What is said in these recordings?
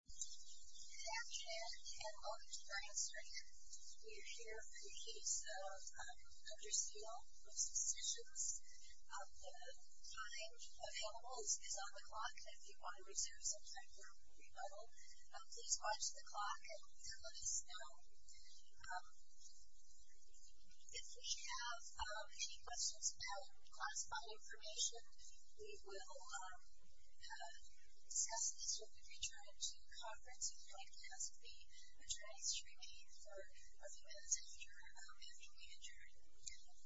Good afternoon and welcome to Brain Strainer. We are here for the case of Dr. Seal v. Sessions. The time available is on the clock. If you want to reserve some time for rebuttal, please watch the clock and let us know. If we have any questions about classified information, we will discuss this when we return to conference. If you would like to ask the attorneys to remain for a few minutes after we adjourn and end the panel.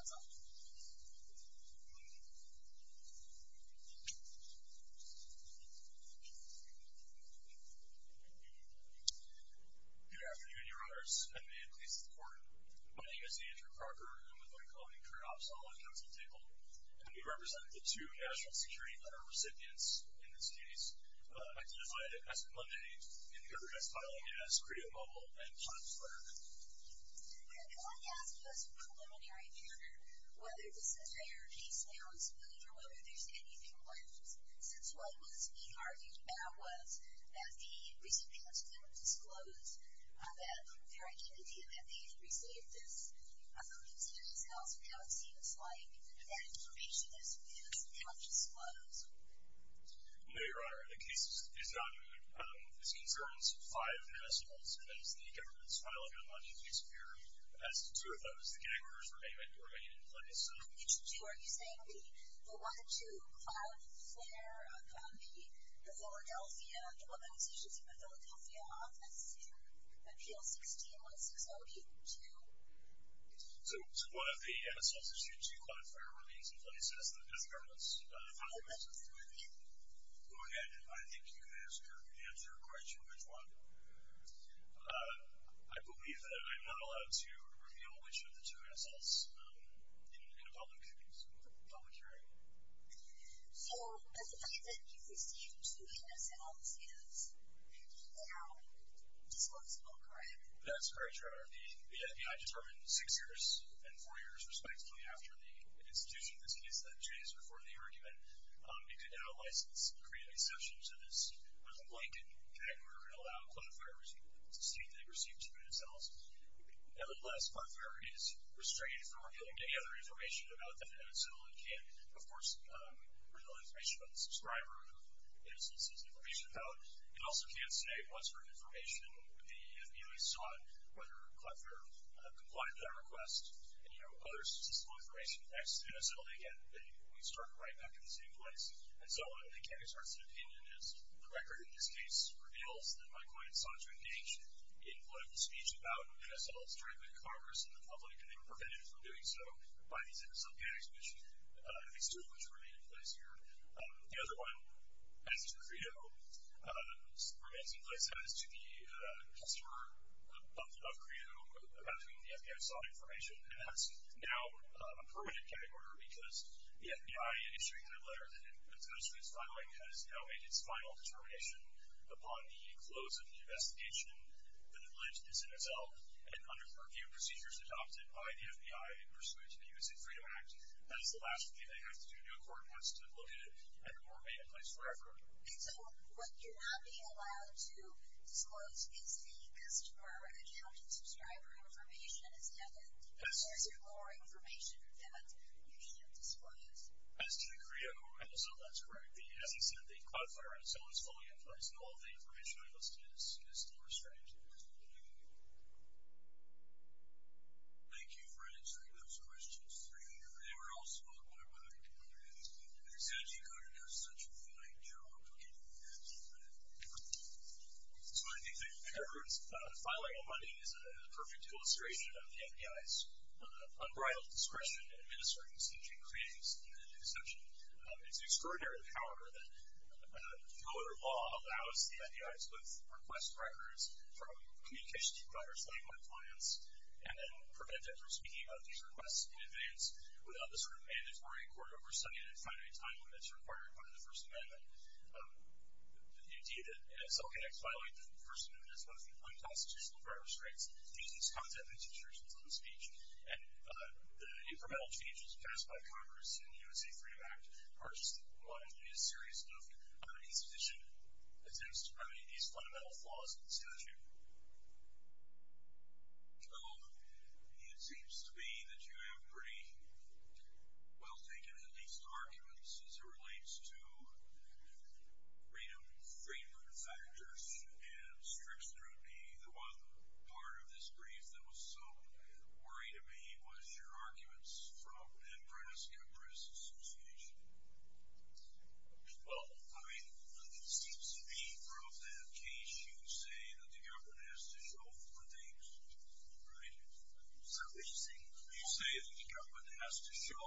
Good afternoon, your honors, and may it please the court. My name is Andrew Crocker. I'm with the McClellan-Curnoff Solid Council Table. And we represent the two National Security Letter recipients in this case, identified as preliminary in the evidence filing as CREA Mobile and POTS Letter. We are going to ask you as a preliminary matter whether this entire case now is clear, or whether there's anything left. Since what was being argued about was that the recipients never disclosed their identity and that they had received this, I'm concerned as to how it seems like that information is now disclosed. No, your honor. The case is not moved. This concerns five individuals, and that is the government's file of unlawful disappearance. As to two of those, the gag orders remain in place. Which two are you saying? The 1-2 Cloudflare, the Philadelphia, the one that was issued to the Philadelphia office, and the PL-16160-2? So, one of the MSLs issued to Cloudflare remains in place as the government's file. Oh, that's what's in my hand. Go ahead. I think you can answer quite sure which one. I believe that I'm not allowed to reveal which of the two MSLs in a public hearing. So, the fact that you received two MSLs is now disclosable, correct? That's correct, your honor. The FBI determined six years and four years respectively after the institution of this case that changed before the argument. It could now license and create an exception to this with a blanket gag order and allow Cloudflare to state that it received two MSLs. Nevertheless, Cloudflare is restrained from revealing any other information about the MSL. It can, of course, reveal information about the subscriber of MSLs it's information about. It also can't state what sort of information the FBI sought, whether Cloudflare complied with that request, and, you know, other statistical information next to MSL. Again, we start right back at the same place. And so, I don't think any sort of opinion is correct, or in this case, reveals that my client sought to engage in political speech about MSLs directly to Congress and the public, and they were prevented from doing so by these MSL gags, which I think still remain in place here. The other one, as to Credo, remains in place as to the customer of Credo, about whom the FBI sought information. And that's now a permanent gag order because the FBI, issuing that letter that it's going to start filing, has now made its final determination upon the close of the investigation that alleged this MSL. And under curfew procedures adopted by the FBI in pursuance of the U.S. Immigrant Freedom Act, that is the last thing they have to do. No court wants to look at it, and it will remain in place forever. And so, what you're not being allowed to disclose is the customer account and subscriber information, is that it? Yes. Or is there more information that you can't disclose? As to the Credo, MSL, that's correct. As I said, the Cloudflare MSL is fully in place, and all of the information I listed is still restrained to the U.S. Immigrant Freedom Act. Thank you for answering those questions. They were also on one of my comments. I said you got to do such a fine job of getting the answer to that. So I think the evidence filing on Monday is a perfect illustration of the FBI's unbridled discretion in administering such a crass deception. It's an extraordinary power that voter law allows the FBI to put request records from communications providers like my clients and then prevent them from speaking about these requests in advance without the sort of mandatory court oversight in a finite time when it's required under the First Amendment. Indeed, MSL connects violating the First Amendment as well as the unconstitutional driver's rights to use these content restrictions on speech. And the incremental changes passed by Congress in the U.S. Immigrant Freedom Act are seriously enough to remedy these fundamental flaws in the statute. Well, it seems to me that you have pretty well-taken-at-least arguments as it relates to freedom of factors and strict scrutiny. The one part of this brief that was so worrying to me was your arguments from the Nebraska Press Association. Well, I mean, it seems to me from that case you say that the government has to show four things. Right? Sir, what did you say? You say that the government has to show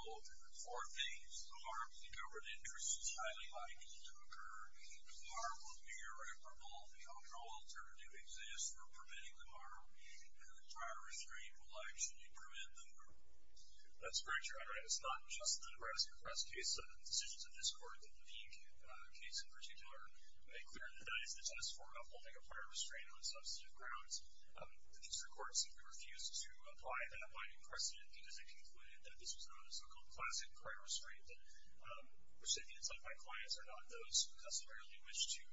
four things. The harm to the government interest is highly likely to occur. The harm will be irreparable. The only alternative exists for preventing the harm. And the prior restraint will actually prevent the harm. That's correct, Your Honor. It's not just the Nebraska Press case. The decisions of this Court, the Levy case in particular, made clear that that is the test for upholding a prior restraint on substantive grounds. The District Court simply refused to apply that binding precedent because it concluded that this was not a so-called classic prior restraint, that recipients like my clients are not those who customarily wish to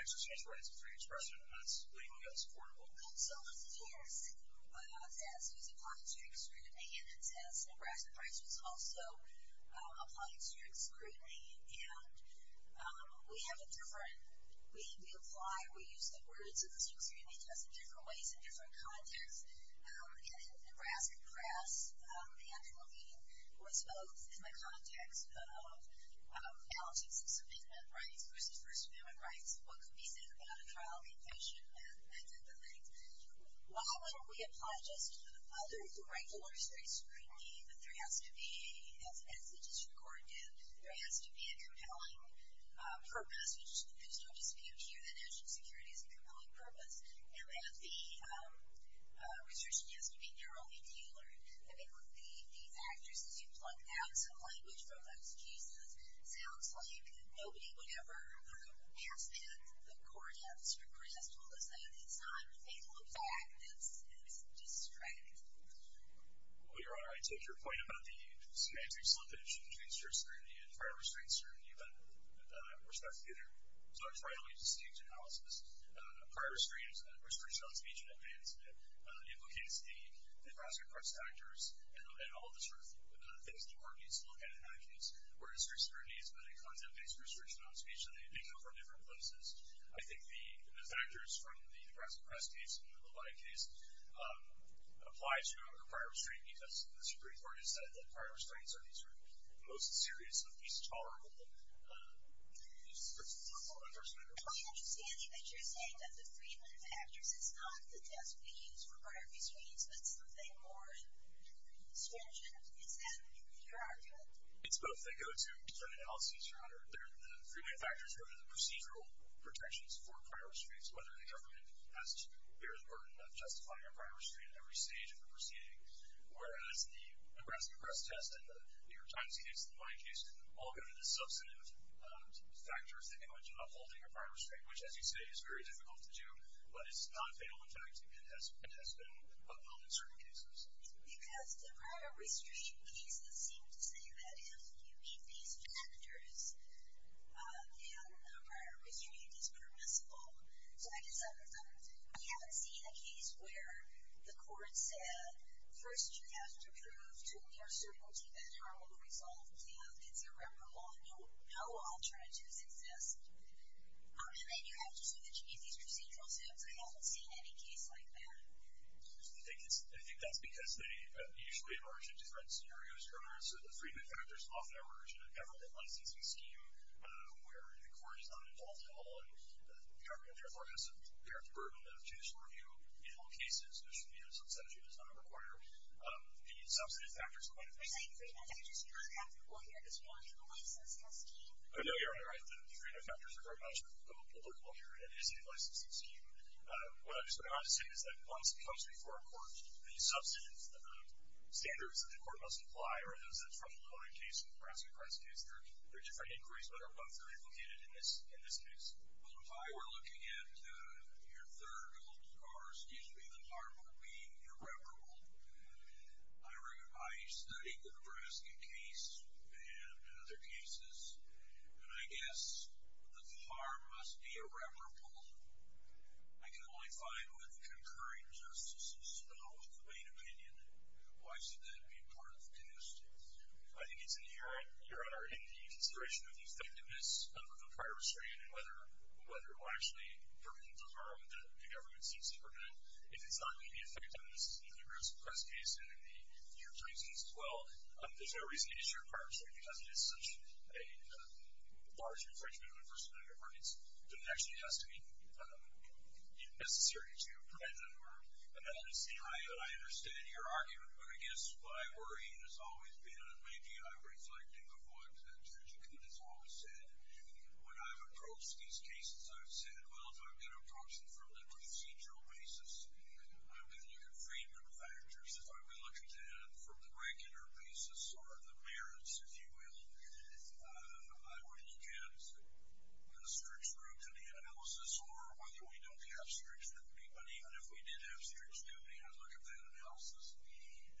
exercise rights of free expression. And that's legally unsupportable. And so it's a test. It's a test. It was applied to a district, and it's a test. Nebraska Press was also applied to a district screening, and we have a different way we apply, we use the words of the district screening test in different ways in different contexts. And in Nebraska Press, the actual meeting was both in the context of alleges of subpoena rights versus first amendment rights, which is what could be said about a trial conviction and other things. Why wouldn't we apply just other regular district screening, but there has to be, as the District Court did, there has to be a compelling purpose, which there's no dispute here that national security is a compelling purpose, and that the restriction has to be narrowly tailored. I mean, the actors, as you pluck out some language from those cases, sounds like nobody would ever ask that. The District Court has told us that. It's not a thing to look back. It's just straggling. Well, Your Honor, I take your point about the semantic slippage between district screening and prior restraint screening, but we're stuck together. So I try not to use a staged analysis. Prior restraint is a restriction on speech in advance, and it implicates the Nebraska Press actors and all of the sort of things the court needs to look at in that case, where district scrutiny has been a content-based restriction on speech, and they may come from different places. I think the actors from the Nebraska Press case and the Levine case apply to prior restraint, because the Supreme Court has said that prior restraints are the sort of most serious and least tolerable use of force. My understanding that you're saying that the treatment of actors is not the test we use for prior restraints, but something more stringent. Is that your argument? It's both. They go to certain analyses, Your Honor. The three main factors go to the procedural protections for prior restraints, whether the government bears the burden of justifying a prior restraint at every stage of the proceeding, whereas the Nebraska Press test and the New York Times case and the Levine case all go to the substantive factors that go into upholding a prior restraint, which, as you say, is very difficult to do, but it's not a fatal in fact, and has been upheld in certain cases. Because the prior restraint cases seem to say that if you meet these standards, then a prior restraint is permissible. So I guess I would say we haven't seen a case where the court said, first, you have to prove to your certainty that her will resolve the plan. It's irreparable. No alternatives exist. And then you have to say that you meet these procedural standards. I haven't seen any case like that. I think that's because they usually emerge in different scenarios, Your Honor. So the three main factors often emerge in a government licensing scheme where the court is not involved at all and the government therefore has to bear the burden of judicial review in all cases, which the substantive does not require. The substantive factors are quite important. But the three main factors are not applicable here, because we don't have a licensing scheme. No, Your Honor, the three main factors are very much applicable here in a state licensing scheme. What I'm just going to add to say is that once it comes before a court, the substantive standards that the court must apply are those that's from the Lebron case and the Brasket case. They're different inquiries, but they're both really located in this case. Well, if I were looking at your third, Your Honor, excuse me, the harm of being irreparable, I studied the Brasket case and other cases, and I guess the harm must be irreparable. I can only find with concurring justices the most plain opinion. Why should that be part of the Canoe State? I think it's inherent, Your Honor, in the consideration of the effectiveness of a prior restraint and whether it will actually permit the harm that the government seems to permit. If it's not going to be effective, and this is in the Brasket case and in the other cases as well, there's no reason to issue a prior restraint because it is such a large infringement of the First Amendment rights that it actually has to be necessary to prevent the harm. And I understand your argument, but I guess my worry has always been, and maybe I'm reflecting of what Judge Akut has always said, when I've approached these cases, I've said, well, if I'm going to approach them from the procedural basis, then you can free me of the factors. If I'm going to look at them from the regular basis or the merits, if you will, I would look at a stretch through to the analysis or whether we don't have stretch through. But even if we did have stretch through, I'd look at that analysis.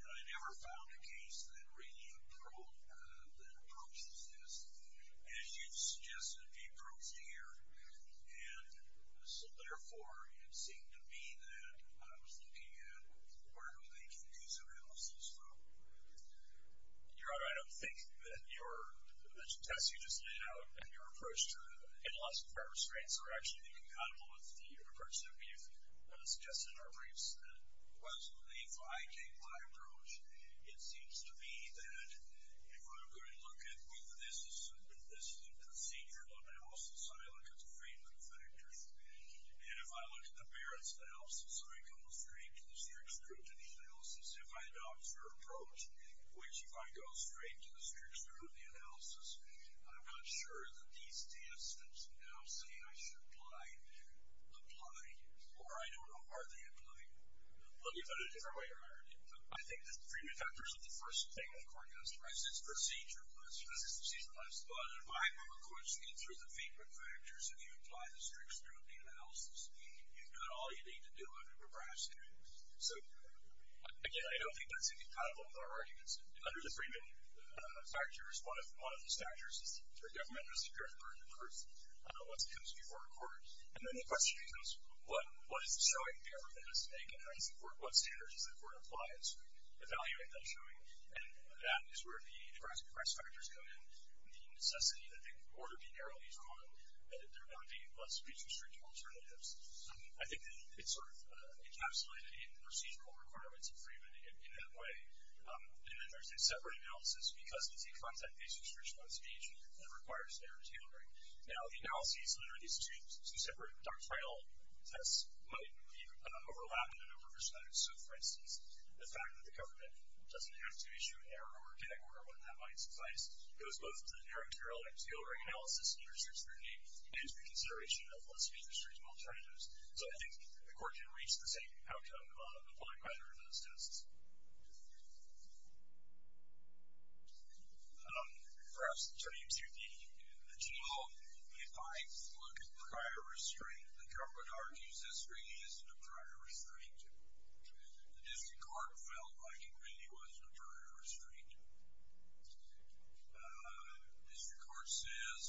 And I never found a case that really approached this as you've suggested it be approached here. And so, therefore, it seemed to me that I was looking at where do they can do some analysis from. Your Honor, I don't think that your test you just laid out and your approach to analyzing prior restraints are actually incompatible with the approach that we've suggested in our briefs, that was the 5-K-5 approach. It seems to me that if I'm going to look at whether this is a procedural analysis, I look at the freement factors. And if I look at the merits analysis, I go straight to the stretch through to the analysis. If I adopt your approach, which if I go straight to the stretch through to the analysis, I'm not sure that these test that's now saying I should apply, apply. Or I don't know, are they applying? Well, you've done it a different way, Your Honor. I think the freement factors are the first thing the court has to recognize. It's procedural. It's procedural. But if I'm going to get through the freement factors and you apply the stretch through to the analysis, you've done all you need to do under the Brexit Act. So, again, I don't think that's incompatible with our arguments. Under the freement factors, one of the factors is for government to secure the burden of proof once it comes before the court. And then the question becomes, what is the showing the government has to make in how you support what standards does the court apply? It's evaluating that showing. And that is where the Brexit factors come in, the necessity that they order be narrowly drawn, that there not be speech-restrictive alternatives. I think that it's sort of encapsulated in the procedural requirements of freement in that way. And then there's a separate analysis because it's a content-based restriction on speech that requires narrow tailoring. Now, the analysis, literally these two separate doctrinal tests might be overlapping and over-perspective. So, for instance, the fact that the government doesn't have to issue an error or get an order when that might suffice goes both to the narrow tailoring analysis under 638 and its reconsideration of what speech restriction alternatives. So I think the court can reach the same outcome of applying either of those tests. Perhaps turning to the general, if I look at prior restraint, the government argues this really isn't a prior restraint. The district court felt like it really was a prior restraint. District court says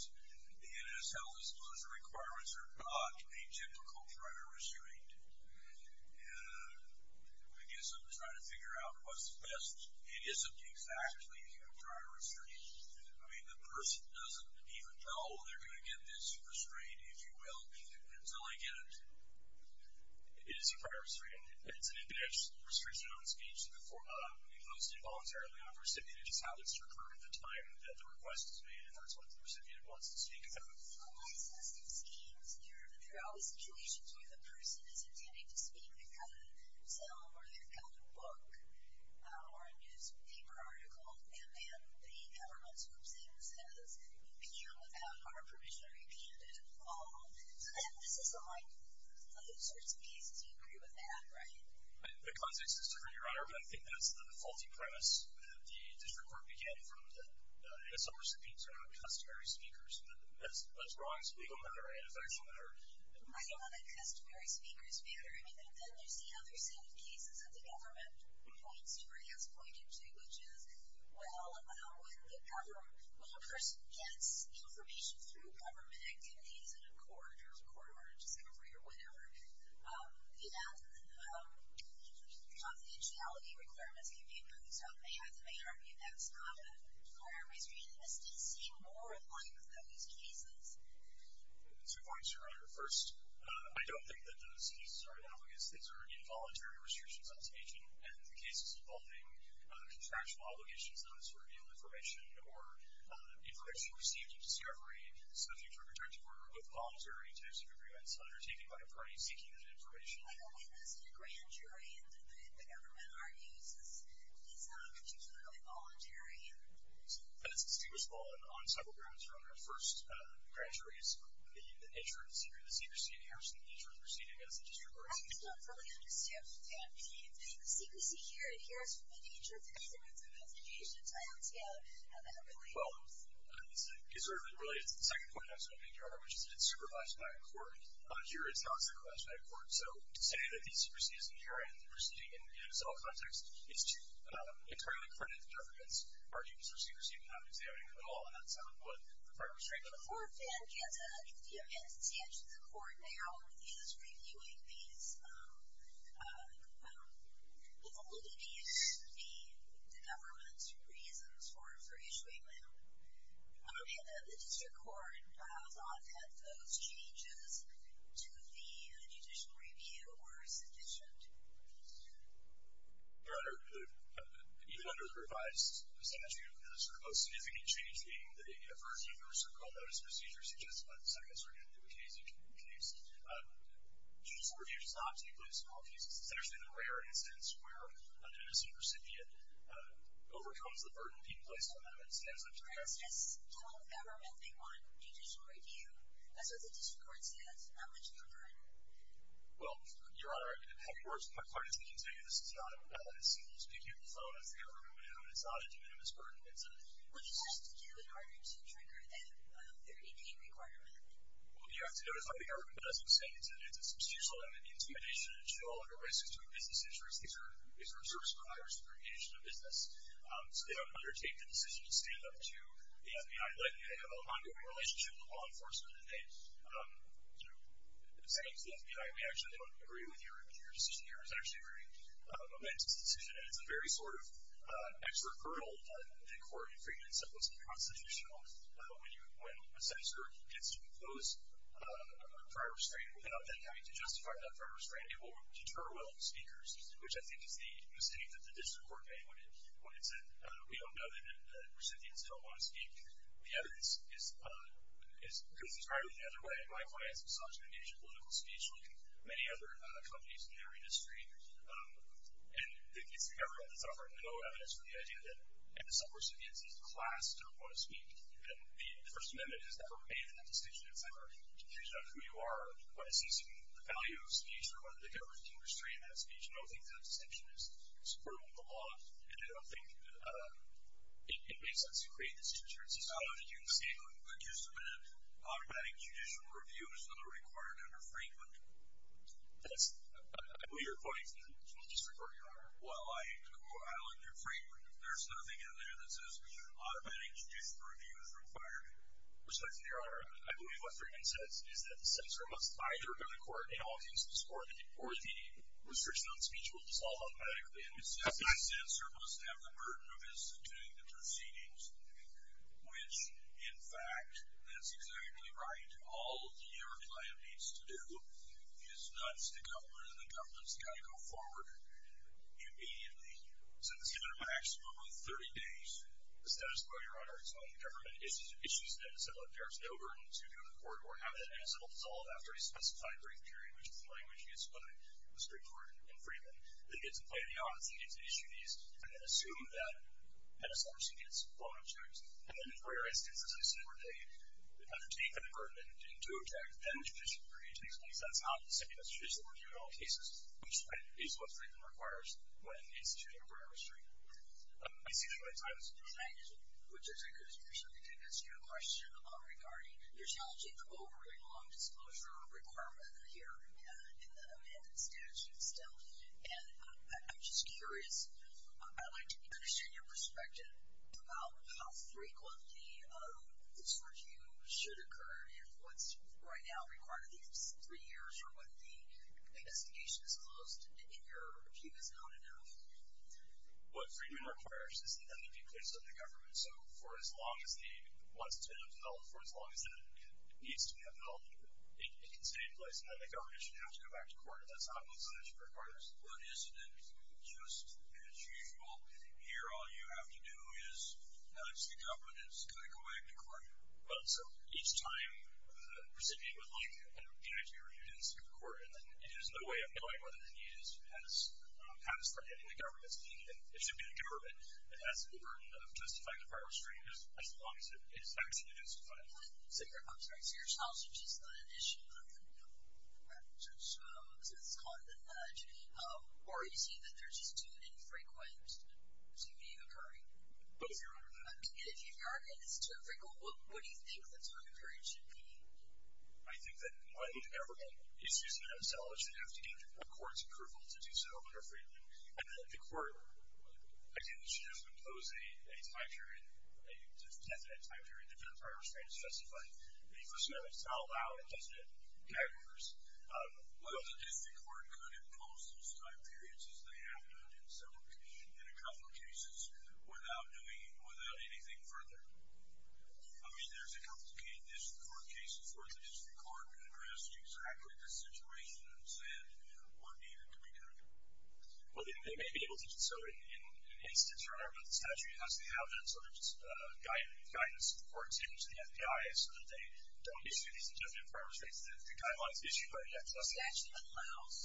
the NIS health disclosure requirements are not a typical prior restraint. I guess I'm just trying to figure out what's best. It isn't exactly a prior restraint. I mean, the person doesn't even know they're going to get this restraint, if you will, until they get it. It is a prior restraint. It's an index restriction on speech. We post it voluntarily on the recipient. It just happens to occur at the time that the request is made, and that's what the recipient wants to speak about. Well, why is this in schemes? There are always situations where the person is intending to speak, they've got a cell, or they've got a book, or a newspaper article, and then the government swims in and says, you know, without our permission, or you can't do it at all. This is on all sorts of cases. You agree with that, right? The context is different, Your Honor, but I think that's the faulty premise that the district court began from. And some recipients are not customary speakers. That's wrong. It's a legal matter and a factual matter. I don't know that customary speakers matter. I mean, then there's the other set of cases that the government point story has pointed to, which is, well, when the government, when a person gets information through government activities in a court, or in a discovery, or whatever, confidentiality requirements can be improved. So they have to make an argument that it's not a prior history. And this does seem more like those cases. Two points, Your Honor. First, I don't think that those cases are analogous. These are involuntary restrictions on speech, and the cases involving contractual obligations, those who reveal information, or information received in discovery, subject to a protective order, are both voluntary types of agreements undertaken by a party seeking that information. I don't think there's been a grand jury, and the government argues that it's not particularly voluntary. And it's the same as well. On several grounds, Your Honor. First, the grand jury is the insurer, the secretary, the secrecy inherits from the insurer's proceeding against the district court. I just don't fully understand. Yeah. The secrecy here inherits from the insurer's executive investigation, so how does that relate? Well, it sort of relates to the second point I was going to make, Your Honor, which is that it's supervised by a court. Here, it's not supervised by a court. So to say that the secrecy is inherent in the proceeding, in its own context, is to entirely credit the government's arguments for secrecy, but not examining it at all. And that's what the prior restrictions were. Before, Dan, can you answer the court now, he was reviewing these, all of these, the government's reasons for issuing them. And the district court thought that those changes to the judicial review were sufficient. Your Honor, even under the revised statute, the sort of most significant change being that it refers to a case in case. Judicial review does not take place in all cases. It's actually the rare instance where an innocent recipient overcomes the burden being placed on them and stands up to them. And it's just telling the government they want judicial review? That's what the district court says. Not much of a burden. Well, Your Honor, how it works, my clarity can tell you, this is not as simple as picking up the phone, as the government would do, and it's not a de minimis burden. What does it have to do in order to trigger that 30-day requirement? Well, you have to notice how the government doesn't say it's an institutional intimidation and show all of their risks to a business interest. These are service providers who are engaged in a business. So they don't undertake the decision to stand up to the FBI. Like, they have an ongoing relationship with law enforcement and they, you know, say to the FBI, we actually don't agree with your decision here. It's actually a very momentous decision and it's a very sort of hurdle that the court in Freeman said was unconstitutional. When you, when a senator gets to impose a prior restraint without them having to justify that prior restraint, it will deter well speakers, which I think is the mistake that the district court made when it, when it said, we don't know that the recipients don't want to speak. The evidence is, is, because it's probably the other way. My clients have sought to engage in political speech, like many other companies in their industry. And it's the government that's offered no evidence for the idea that some recipients is the class don't want to speak. And the first amendment is never made in the decision. It's never confusion on who you are, what is the value of speech or whether the government can restrain that speech. I don't think that the distinction is supportable in the law. And I don't think it makes sense to create this difference. It's not that you can say, look, you submitted automatic judicial reviews that are required under Franklin. I believe you're quoting from the district court, your honor. Well, I look at Franklin. There's nothing in there that says automatic judicial reviews required. Respect to your honor, I believe what Franklin says is that the censor must either go to court in all cases, or the restriction on speech will dissolve automatically. The censor must have the burden of instituting the proceedings, which in fact, that's exactly right. All your client needs to do is not just the government and the government's got to go forward immediately. So it's given a maximum of 30 days. The status quo, your honor, is when the government issues an incident where there's no burden to go to court or have that incident dissolve after a specified brief period, which is the language used by the district court in Fremont. They get to play the odds. They get to issue these and then assume that penitentiary gets And then for your instance, as I said, where they undertake a burden and do a check, then the judicial review takes place. That's not the same as judicial review in all cases, which is what Franklin requires when instituting a burden of restraint. I see the right time. Which is a good question. I think that's a good question regarding your challenging the overriding long disclosure requirement here in the amended statute still. And I'm just curious. I'd like to understand your perspective about how frequently this review should occur and what's right now required of these three years or when the investigation is closed and your review is not enough. What freedom requires is that there be clearance of the government. So for as long as the, once it's been held for as long as it needs to be held, it can stay in place. And then the government should have to go back to court. That's not what the statute requires. But isn't it just as usual, here all you have to do is ask the government, it's going to go back to court. Well, so each time the recipient would like to, you know, to be reviewed in the state court. And then it is no way of knowing whether the need is, has, has for getting the government's opinion. It should be the government that has the burden of justifying the prior restraint as long as it is actually justified. So your, so your scholarship is not an issue of the government. So, so this is caught in the nudge. Or is he that there's just too infrequent to be occurring? Both your Honor. And if you, if your argument is too infrequent, what, what do you think the time period should be? I think that the government, excuse me, themselves should have to gain the court's approval to do so in their freedom. And then the court, I think they should just impose a, a time period, a definite time period to justify restraint as justified. Because you know, it's not allowed, isn't it? Well, the district court could impose those time periods as they have done in several, in a couple of cases without doing it without anything further. I mean, there's a couple of cases where the district court addressed exactly the situation and said what needed to be done. Well, they may be able to. So in, in instance or however, the statute has to have that sort of guidance, for example, to the FBI, so that they don't issue these adjustment requirements. The, the guidelines issued by the FDIC. The statute allows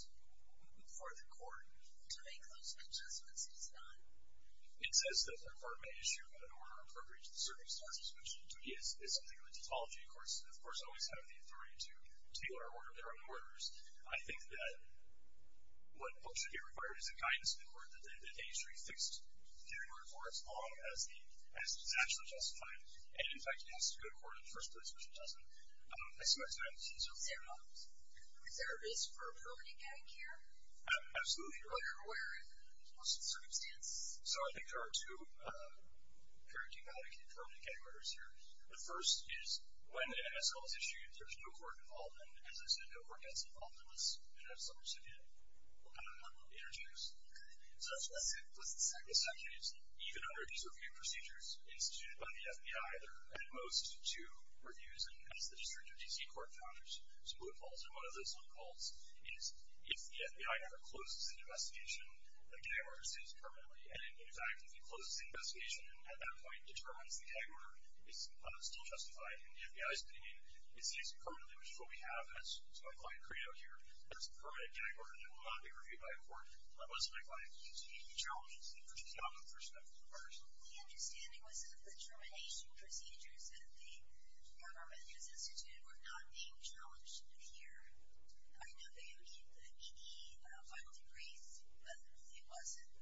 for the court to make those adjustments. It's not, it says that the court may issue an order appropriate to the circumstances which is, is something of a tautology. Of course, of course, always have the authority to, to be on our order, their own orders. I think that what should be required is a guidance in the court that they, that they should be fixed during or as long as the, as it's actually justified. And in fact, it has to go to court in the first place, which it doesn't. I see my time is up. Is there a, is there a risk for a permanent getting here? Absolutely. Well, you're aware of most of the circumstance. So I think there are two, two permanent getting orders here. The first is when an MSL is issued, there's no court involvement. As I said, no court gets involved in this. And that's the worst that can happen on the interjects. Okay. So that's the second. The second is even under these review procedures instituted by the FBI, there are at most two reviews. And as the district of DC court found, there's some loopholes. And one of those loopholes is if the FBI ever closes an investigation, the gag order stays permanently. And in fact, if you close the investigation and at that point determines the gag order is still justified in the FBI's opinion, it stays permanently, which is what we have. That's what I find credo here. There's a permanent gag order that will not be reviewed by a court. That was my client. He challenged it, which is not a perspective of ours. The understanding was that the termination procedures that the government has instituted were not being challenged here. I know that you gave the ED a final debrief, but it wasn't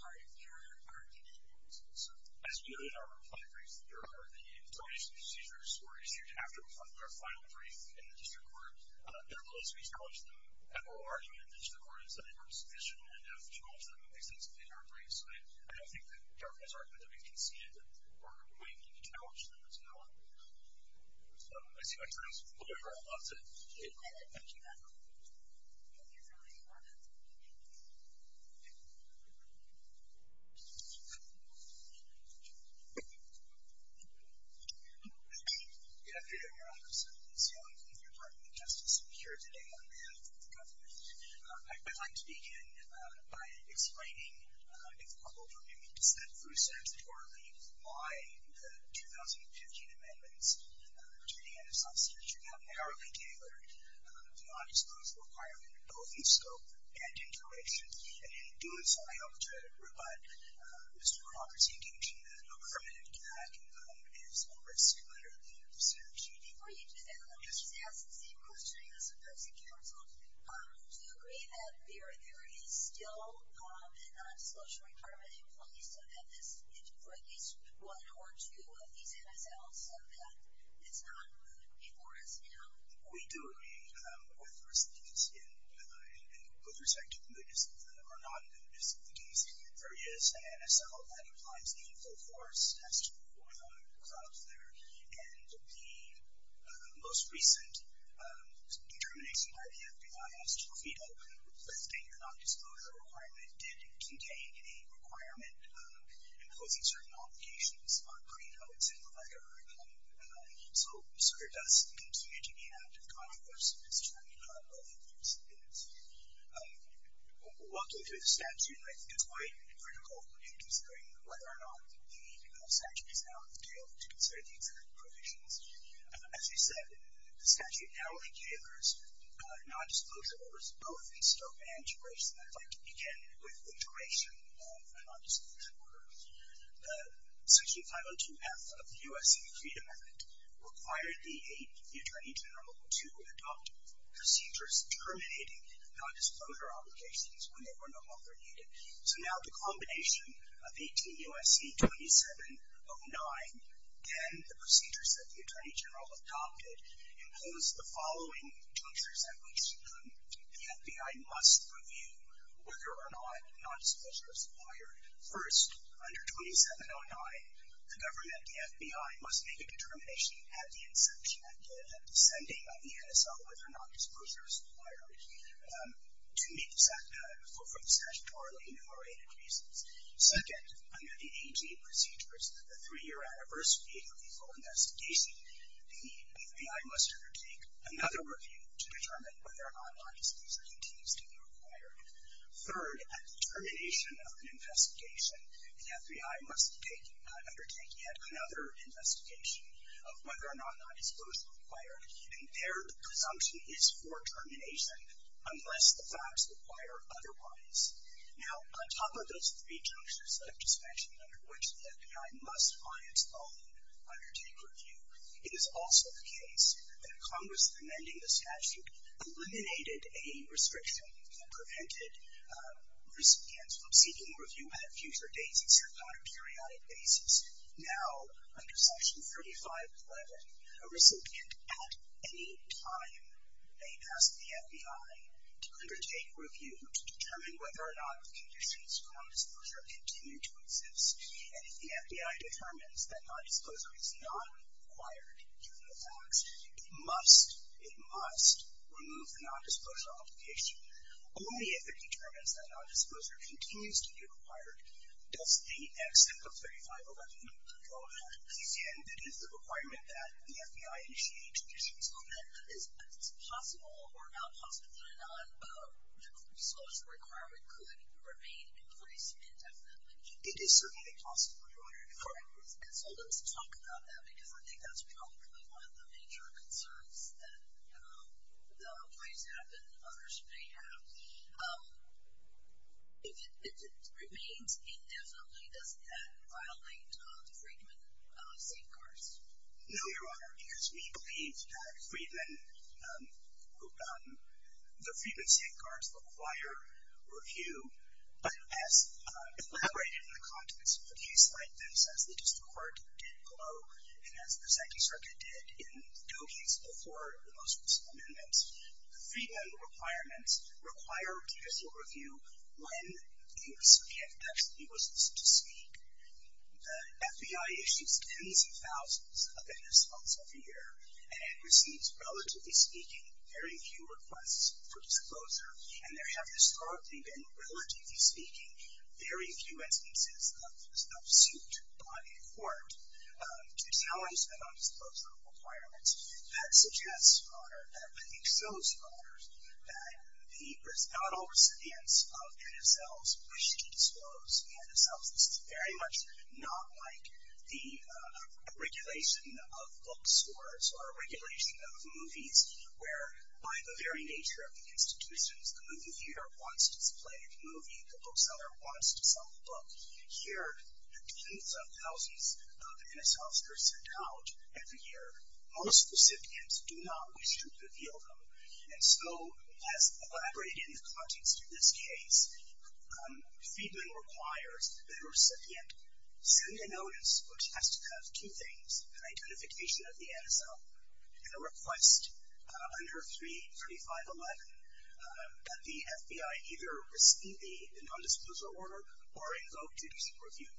part of your argument. As you know, in our reply briefs that you referred to, the termination procedures were issued after we filed our final brief in the district court. I don't think that the government has argued that we've conceded that we're going to challenge them as well. I see my time is up. I'm going to wrap up. Thank you. Thank you very much. Thank you. Thank you. Thank you for your time. Thank you. Good afternoon, Your Honor. As your partner in justice, I'm here today on behalf of the government. I'd like to begin by explaining in the couple of arguments that Lu said for me why the 2015 amendments to the end of substance treatment have not exposed the requirement of both the scope and duration. And in doing so, I hope to provide Mr. Crawford's indication that a permanent gag is a risk, literally, of substance use. Before you do that, let me just ask the same question as the person counseled. Do you agree that there is still a non-disclosure requirement in place for at least one or two of these MSLs so that it's not rude before us now? We do agree with respect to the notice of the case. There is an MSL that implies a full force test for the drug there. And the most recent determination by the FBI as to whether or not the non-disclosure requirement did contain a requirement imposing certain obligations on pre-health and whatever. So it does continue to be an active controversy as to whether or not there is an MSL. Walking through the statute, I think it's quite critical in considering whether or not the statute is now available to consider the exact provisions. As you said, the statute now only gives non-disclosure orders both in scope and duration. I'd like to begin with the duration of the non-disclosure order. Section 502F of the U.S. Freedom Act required the Attorney General to adopt procedures terminating non-disclosure obligations when they were no longer needed. So now the combination of 18 U.S.C. 2709 and the procedures that the Attorney General adopted impose the following junctures at which the FBI must review whether or not non-disclosure is required. First, under 2709, the government, the FBI, must make a determination at the inception, at the sending of the MSL, whether or not disclosure is required to meet the statutoryly enumerated reasons. Second, under the 18 procedures, the three-year anniversary of the full investigation, the FBI must undertake another review to determine whether or not non-disclosure continues to be required. Third, at the termination of an investigation, the FBI must undertake yet another investigation of whether or not non- disclosure is required. And their presumption is for termination unless the facts require otherwise. Now, on top of those three junctures that I've just mentioned, under which the FBI must by its own undertake review, it is also the case that Congress amending the statute eliminated a restriction that prevented recipients from seeking review on a future basis or not a periodic basis. Now, under section 3511, a recipient at any time may ask the FBI to undertake review to determine whether or not the conditions for non-disclosure continue to exist. And if the FBI determines that non-disclosure is not required given the Only if it determines that non-disclosure continues to be required does the except of 3511 be drawn out. And it is the requirement that the FBI initiate a judicial review. So then, is it possible or not possible that a non-disclosure requirement could remain in place indefinitely? It is certainly possible, Your Honor. Correct. And so let's talk about that because I think that's probably one of the major concerns that might happen, others may have. If it remains indefinitely, does that violate the Freedman safeguards? No, Your Honor, because we believe that the Freedman safeguards require review as elaborated in the context of a case like this as the district court did below and as the Second Circuit did in the case before the most recent amendments. The Freedman requirements require judicial review when the circuit actually was listed to speak. The FBI issues tens of thousands of initials every year and it receives, relatively speaking, very few requests for disclosure. And there have historically been, relatively speaking, very few instances of suit by a court to challenge the non-disclosure requirements. That suggests, Your Honor, that I think so, Your Honor, that the not all recipients of NSLs wish to disclose NSLs. This is very much not like the regulation of bookstores or regulation of movies where, by the very nature of the institutions, the movie theater wants to display a movie, the bookseller wants to sell a book. Here, tens of thousands of NSLs are sent out every year. Most recipients do not wish to reveal them. And so, as elaborated in the context of this case, Freedman requires that a recipient send a notice which has to have two things, an identification of the NSL and a request under 33511 that the FBI either receive a non-disclosure order or invoke judicial review.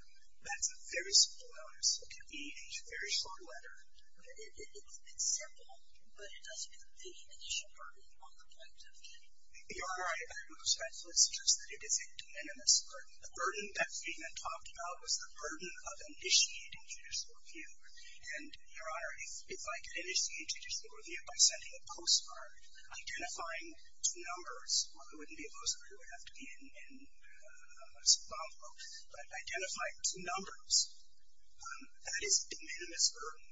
That's a very simple notice. It can be a very short letter. It's simple, but it does put the initial burden on the plaintiff. Your Honor, I am most thankful to suggest that it is a de minimis burden. The burden that Freedman talked about was the burden of initiating judicial review. And, Your Honor, if I could initiate judicial review by sending a postcard, identifying two numbers. Well, it wouldn't be a postcard. It would have to be in Zimbabwe. But identifying two numbers, that is a de minimis burden.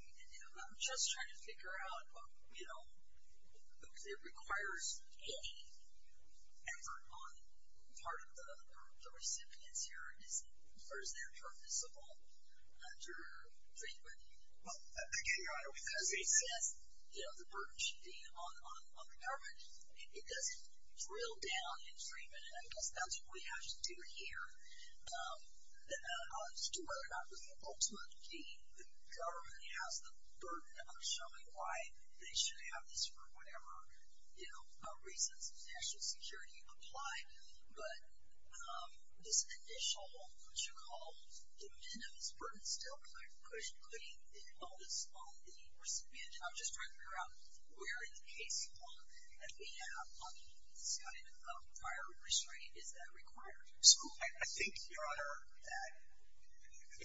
I'm just trying to figure out, you know, if it requires any effort on part of the recipients here, or is there purposeful under Freedman? Well, again, Your Honor, because it says, you know, the burden should be on the government. It doesn't drill down in Freedman. And I guess that's what we have to do here as to whether or not ultimately the government has the burden of showing why they should have this for whatever, you know, reasons of national security apply. But this initial, what you call, de minimis burden still, because it held us on the recipient. I'm just trying to figure out where in the case law that we have on this kind of prior restraining, is that required? So I think, Your Honor, that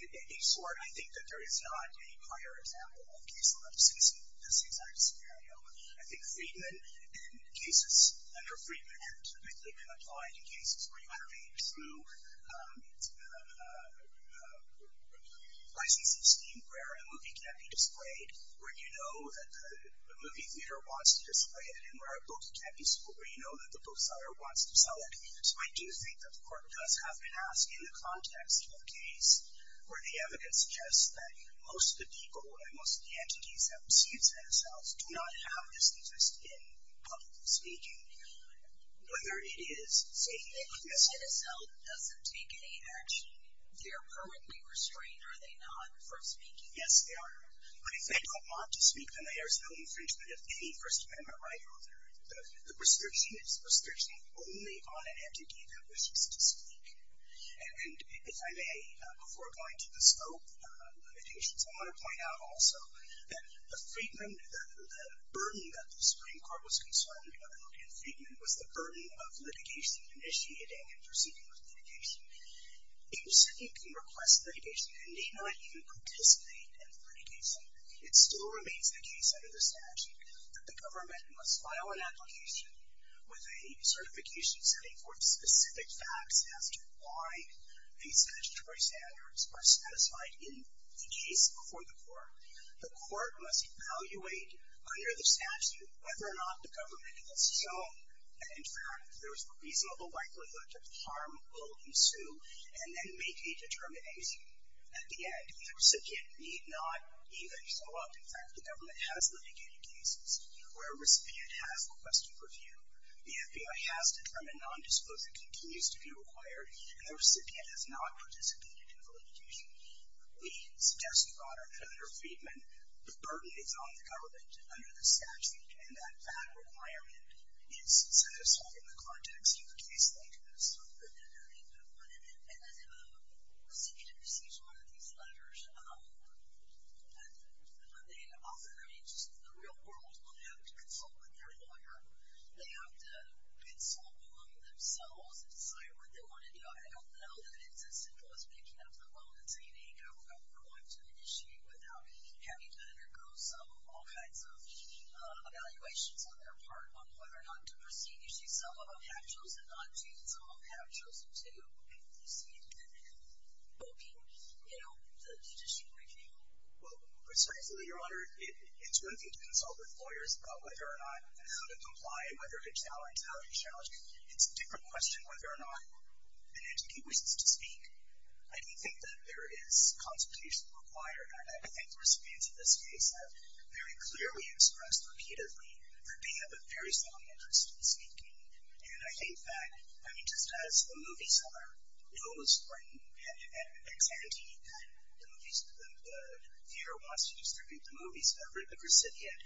in any sort, I think that there is not a prior example in case law of this exact scenario. I think Freedman, in cases under Freedman, has typically been applied in cases where you have a true licensing scheme where a movie can't be displayed, where you know that the movie theater wants to display it, and where a book can't be sold, where you know that the bookseller wants to sell it. So I do think that the Court does have been asked in the context of a case where the evidence suggests that most of the people and most of the entities that receive CNSLs do not have this interest in public speaking. Whether it is saying that a CNSL doesn't take any action, they're currently restrained, are they not, from speaking? Yes, they are. But if they don't want to speak, then there is no infringement of any First Amendment right. The restriction is restriction only on an entity that wishes to speak. And if I may, before going to the scope limitations, I want to point out also that the Freedman, the burden that the Supreme Court was concerned about in Freedman was the burden of litigation, initiating and proceeding with litigation. A recipient can request litigation and may not even participate in litigation. It still remains the case under the statute that the government must file an application with a certification setting forth specific facts as to why the statutory standards are satisfied in the case before the court. The court must evaluate under the statute whether or not the government has shown that, in fact, there is a reasonable likelihood that harm will ensue and then make a determination. At the end, the recipient need not even show up. In fact, the government has litigated cases where a recipient has requested review. The FBI has determined nondisclosure continues to be required, and the recipient has not participated in the litigation. We suggest to you, Your Honor, that under Freedman, the burden is on the government under the statute and that that requirement is satisfied in the context of the case like this. And then I have one. And the recipient receives one of these letters. They offer, I mean, just the real world will have to consult with their lawyer. They have to consult among themselves and decide what they want to do. I don't know that it's as simple as picking up the phone and saying, hey, you know, we're going to initiate without having to undergo some of all kinds of evaluations on their part on whether or not to proceed. You see, some of them have chosen not to, and some of them have chosen to, you see, and then invoking, you know, the judicial review. It's a different question whether or not an entity wishes to speak. I do think that there is consultation required, and I think the recipients in this case have very clearly expressed repeatedly that they have a very strong interest in speaking. And I think that, I mean, just as the movies are, it almost brings, and it's ante, the theater wants to distribute the movies to every recipient.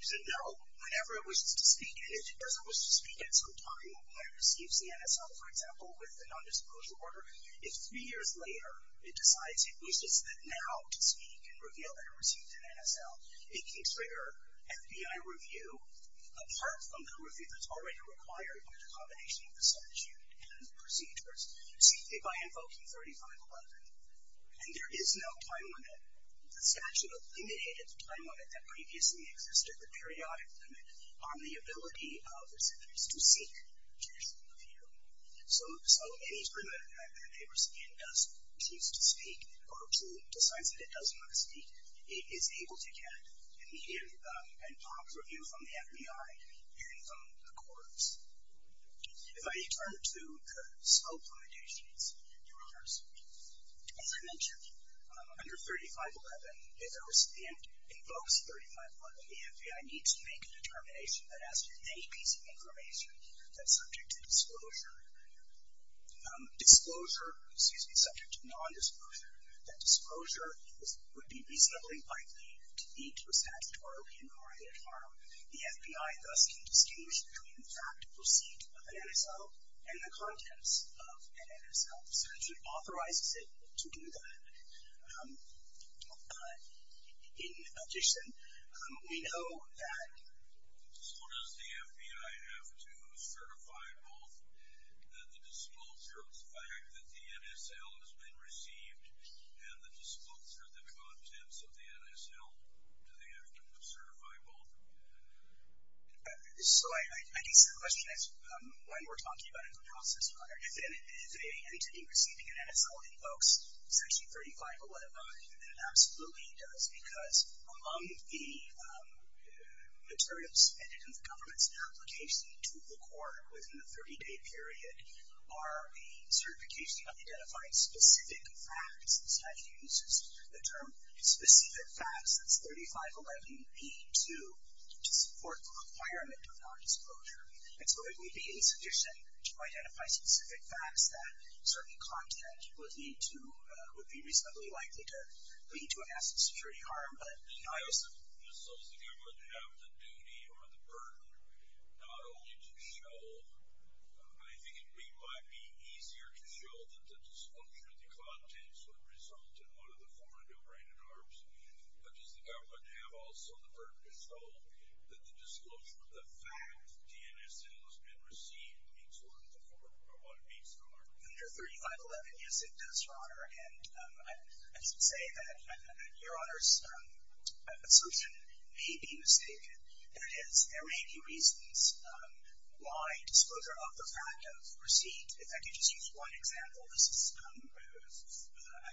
So, no, whenever it wishes to speak, and it doesn't wish to speak at some time when it receives the NSL, for example, with the nondisclosure order, if three years later it decides it wishes that now to speak and reveal that it received an NSL, it can trigger FBI review apart from the review that's already required by the combination of the statute and the procedures. You see, if I invoke 3511, and there is no time limit, the statute eliminated the time limit that previously existed, the periodic limit on the ability of the recipients to seek judicial review. So, any time that a recipient does choose to speak or decides that it doesn't want to speak, it is able to get an NPOB review from the FBI, even from the courts. If I turn to the scope limitations, Your Honors, as I mentioned, under 3511, if there was, and invokes 3511, the FBI needs to make a determination that as to any piece of information that's subject to disclosure, disclosure, excuse me, subject to nondisclosure, that disclosure would be reasonably likely to lead to a statutory inquiry at harm. The FBI thus can distinguish between the fact of receipt of an NSL and the contents of an NSL. The statute authorizes it to do that. In addition, we know that, so does the FBI have to certify both that the disclosure of the fact that the NSL has been received and the disclosure of the contents of the NSL? Do they have to certify both? So, I guess the question is, when we're talking about in the process, if an entity receiving an NSL invokes section 3511, then it absolutely does because among the materials submitted in the government's application to the court within the 30-day period are a certification of identifying specific facts. The statute uses the term specific facts. It's 3511b2 to support the requirement of nondisclosure. And so it would be insufficient to identify specific facts that certain content would be reasonably likely to lead to a massive security harm. But I also think it would have the duty or the burden not only to show, I think it might be easier to show that the disclosure of the contents would result in one of the foreign-operated arms, but does the government have also the purpose to hold that the disclosure of the fact the NSL has been received meets one of the foreign-operated arms? Under 3511, yes, it does, Your Honor. And I should say that Your Honor's assertion may be mistaken. That is, there may be reasons why disclosure of the fact of receipt, if I could just use one example. This is kind of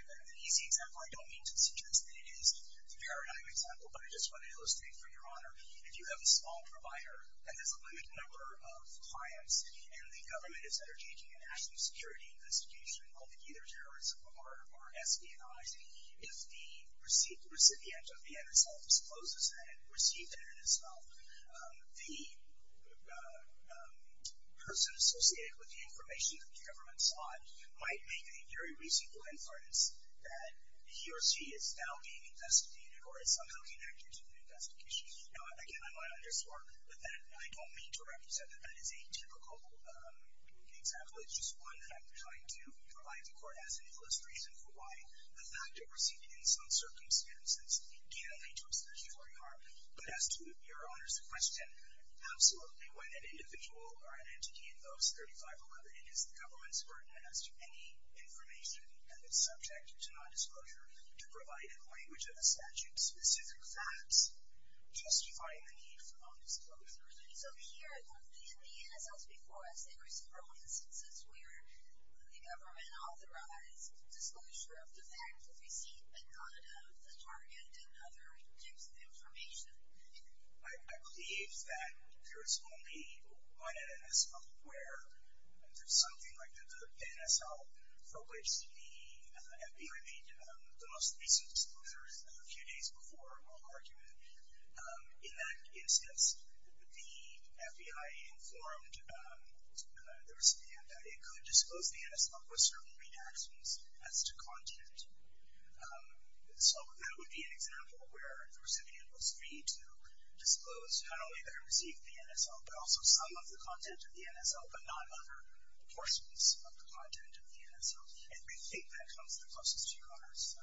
an easy example. I don't mean to suggest that it is the paradigm example, but I just want to illustrate for Your Honor, if you have a small provider and there's a limited number of clients, and the government is undertaking a national security investigation of either terrorism or espionage, if the receipt recipient of the NSL discloses that it received the NSL, the person associated with the information that the government sought might make a very reasonable inference that he or she is now being investigated or is somehow connected to the investigation. Now, again, I might underscore that I don't mean to represent that that is a typical example. It's just one that I'm trying to provide the Court as an illustration for why the fact of receipt in some circumstances can lead to a statutory harm. But as to Your Honor's question, absolutely when an individual or an entity in those 3511 is the government's burden as to any information that is subject to nondisclosure, to provide in the language of the statute specific facts justifying the need for nondisclosure. So here, in the NSLs before us, there were several instances where the government authorized disclosure of the fact of receipt but none of the target and other indexed information. I believe that there is only one NSL where there's something like the NSL for which the FBI made the most recent disclosures a few days before our argument. In that instance, the FBI informed the recipient that it could disclose the NSL with certain redactions as to content. So that would be an example where the recipient was free to disclose not only their receipt of the NSL but also some of the content of the NSL but not other portions of the content of the NSL. And we think that comes the closest to Your Honor's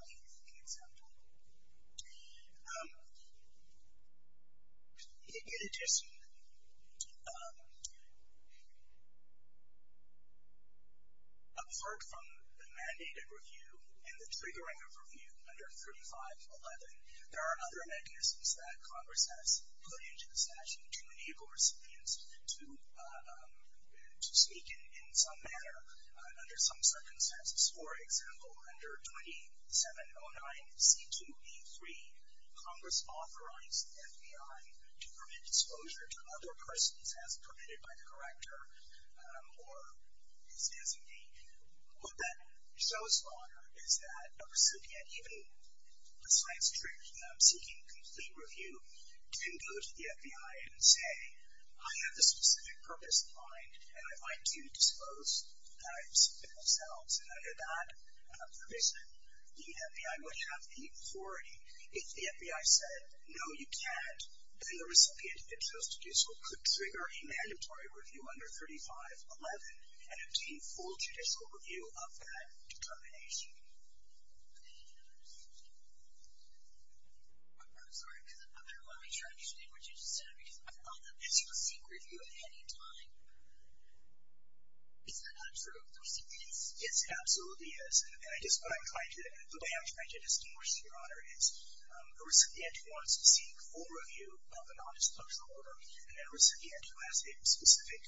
example. In addition, apart from the mandated review and the triggering of review under 3511, there are other mechanisms that Congress has put into the statute to enable recipients to speak in some manner under some circumstances. For example, under 2709C2E3, Congress authorized the FBI to permit disclosure to other persons as permitted by the corrector or his designee. What that shows, Your Honor, is that a recipient, even a science tree that I'm seeking a complete review, can go to the FBI and say, I have a specific purpose in mind and I'd like to disclose that receipt themselves. Under that provision, the FBI would have the authority. If the FBI said, no, you can't, then the recipient, if it's supposed to do so, could trigger a mandatory review under 3511 and obtain full judicial review of that determination. I'm sorry. I don't want to be trying to explain what you just said because I thought that this was a secret review at any time. Is that not true? The receipt is? Yes, it absolutely is. And I guess what I'm trying to do, the way I'm trying to distinguish, Your Honor, is a recipient who wants to seek full review of a nondisclosure order and a recipient who has a specific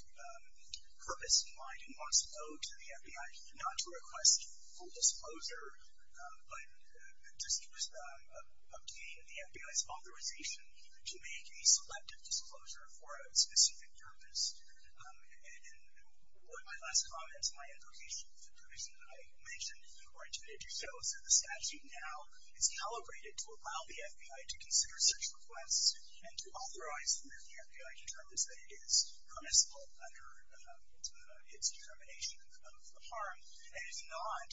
purpose in mind and wants to go to the FBI not to request full disclosure, but just to obtain the FBI's authorization to make a selective disclosure for a specific purpose. In one of my last comments, my implication with the provision that I mentioned or intended to show, is that the statute now is calibrated to allow the FBI to consider search requests and to authorize them if the FBI determines that it is permissible under its determination of the harm. And if not,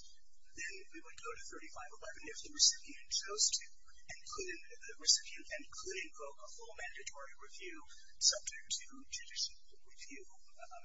then we would go to 3511 if the recipient chose to and could invoke a full mandatory review subject to judicial review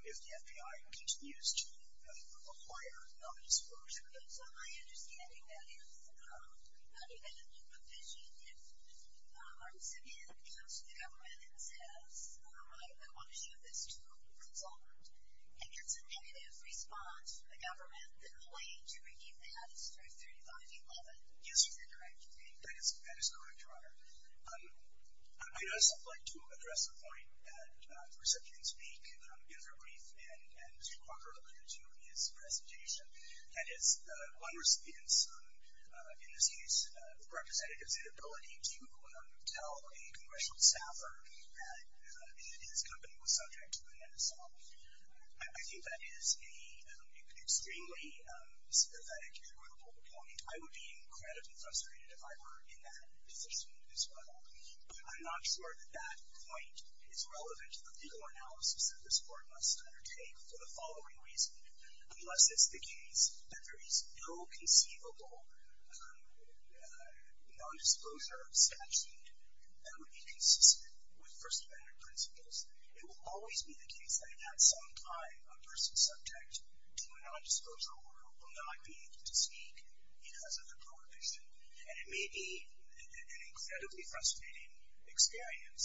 if the FBI continues to require nondisclosure. So my understanding is that you get a new provision if a recipient comes to the government and says, I want to show this to a consultant and gets a negative response from the government, the claim to review that is through 3511. Yes, or is that correct? That is correct, Your Honor. I'd also like to address the point that the recipient speak in their brief and Mr. Corker alluded to in his presentation, that is, one recipient's, in this case, representative's inability to tell a congressional staffer that his company was subject to a nondisclosure. I think that is an extremely sympathetic and notable point. I would be incredibly frustrated if I were in that position as well. But I'm not sure that that point is relevant to the legal analysis that this Court must undertake for the following reason. Unless it's the case that there is no conceivable nondisclosure statute that would be consistent with First Amendment principles, it will always be the case that at some time a person subject to a nondisclosure order will not be able to speak because of the prohibition. And it may be an incredibly frustrating experience.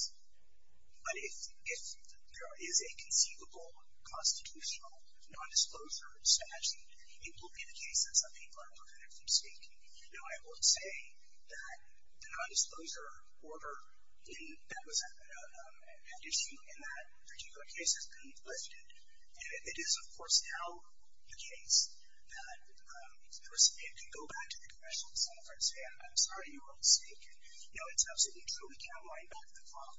But if there is a conceivable constitutional nondisclosure statute, it will be the case that some people are prevented from speaking. You know, I would say that the nondisclosure order that was at issue in that particular case has been lifted. And it is, of course, now the case that the recipient can go back to the congressional staffer and say, I'm sorry, you were mistaken. You know, it's absolutely true we can't wind back the clock,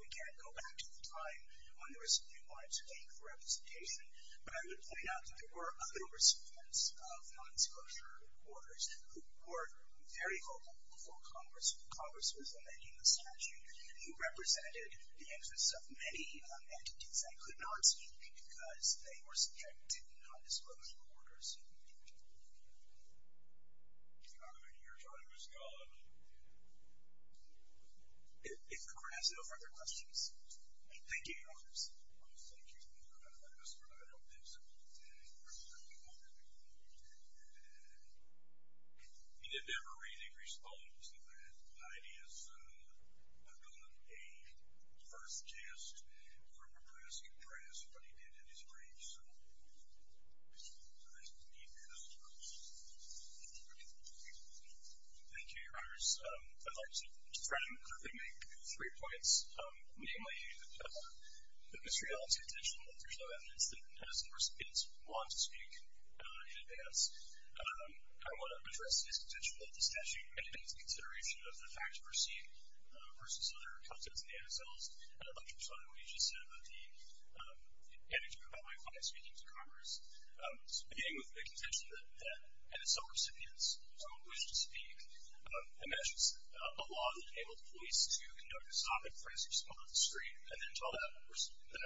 we can't go back to the time when the recipient wanted to speak for representation. But I would point out that there were other recipients of nondisclosure orders who were very vocal before Congress. Congress was amending the statute. You represented the interests of many entities that could not speak because they were subject to nondisclosure orders. Your time is gone. Thank you, Your Honors. Thank you, Your Honor. I just want to add on this. He did never really respond to that. Heidi has done a first test for compressing press, but he did in his brief. So I just believe that as well. Thank you, Your Honors. I'd like to frankly make three points. Namely, the misreality contention that there's no evidence that NSO recipients want to speak in advance. I want to address this contention that the statute mandates the consideration of the facts perceived versus other contents in the NSOs. And I'd like to respond to what you just said about the anecdote about my client speaking to Congress. Beginning with the contention that NSO recipients don't wish to speak. It mentions a law that enabled police to conduct a stopping for instance, up at the street, and then tell that person up at the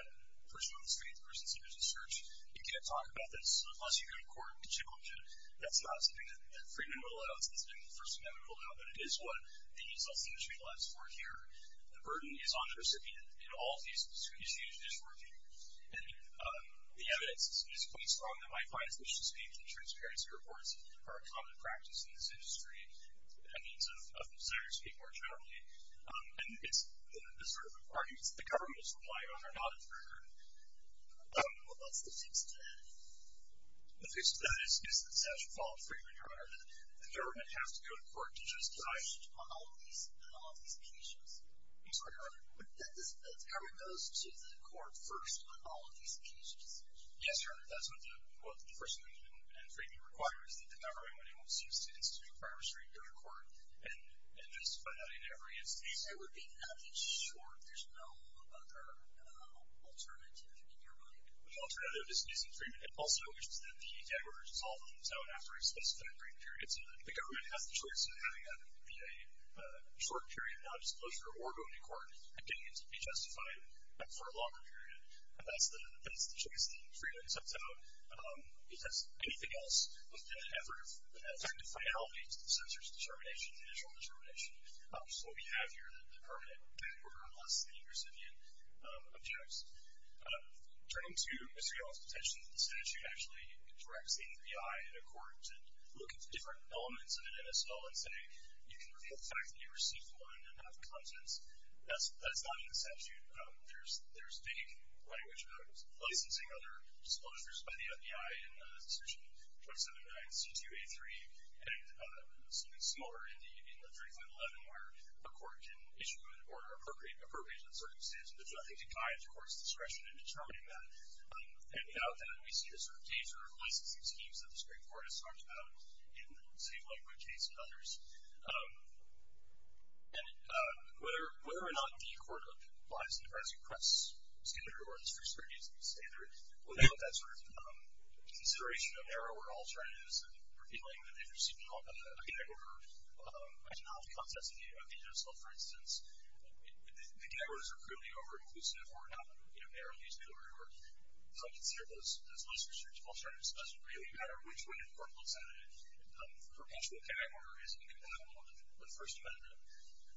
street, the person sitting at the church, you can't talk about this unless you go to court with a chip on your chin. That's not something that Freedman will allow. It's not something that the First Amendment will allow. But it is what the NSO signature allows for here. The burden is on the recipient in all of these issues that he's working. And the evidence is quite strong that my clients wish to speak. The transparency reports are a common practice in this industry. By means of the desires of people who are traveling. And it's the sort of arguments that the government is relying on are not inferred. What's the fix to that? The fix to that is the statute followed Freedman, Your Honor, that the government has to go to court to just decide on all of these occasions. I'm sorry, Your Honor. The government goes to the court first on all of these occasions. Yes, Your Honor. That's what the First Amendment and Freedman require is that the government wants to institute a requirement for you to go to court and justify that in every instance. There would be nothing short. There's no other alternative, Your Honor. The alternative is to use in Freedman. It also wishes that the damages all be settled after a specific brief period. So that the government has the choice of having that be a short period of non-disclosure or going to court and getting it to be justified for a longer period. That's the choice that Freedman sets out. If that's anything else, in an effort of effective finality to the censor's determination, initial determination, which is what we have here, the permanent back order, unless the recipient objects. Turning to Mr. Young's detention, the statute actually directs the NBI in a court to look at the different elements of an NSO and say, you can reveal the fact that you received one and have the contents. That's not in the statute. There's vague language about licensing other disclosures by the NBI in Section 279C2A3 and something smaller in the 3511, where a court can issue an order appropriate to the circumstances. There's nothing to guide the court's discretion in determining that. And without that, we see a sort of danger of licensing schemes that the Supreme Court has talked about in the Safe Language case and others. And whether or not the court applies the pressing press standard or the strict scrutiny standard, without that sort of consideration of narrower alternatives and revealing that they received a back order, a genomic contents of the NSO, for instance, the back orders are clearly over-inclusive or not narrowly excluded. So I consider those restrictive alternatives. It doesn't really matter which way the court looks at it. Perpetual power is incompatible with the First Amendment. Thank you very much. We'll go ahead and close the meeting. Thank you. Thank you. I'm going to be brief. You said you received a first decision. How did you receive that decision? How did you get the assay report? It seems like a big area. Thank you. Thank you. Thank you. Thank you. Thank you. Thank you. Thank you. Thank you. Thank you.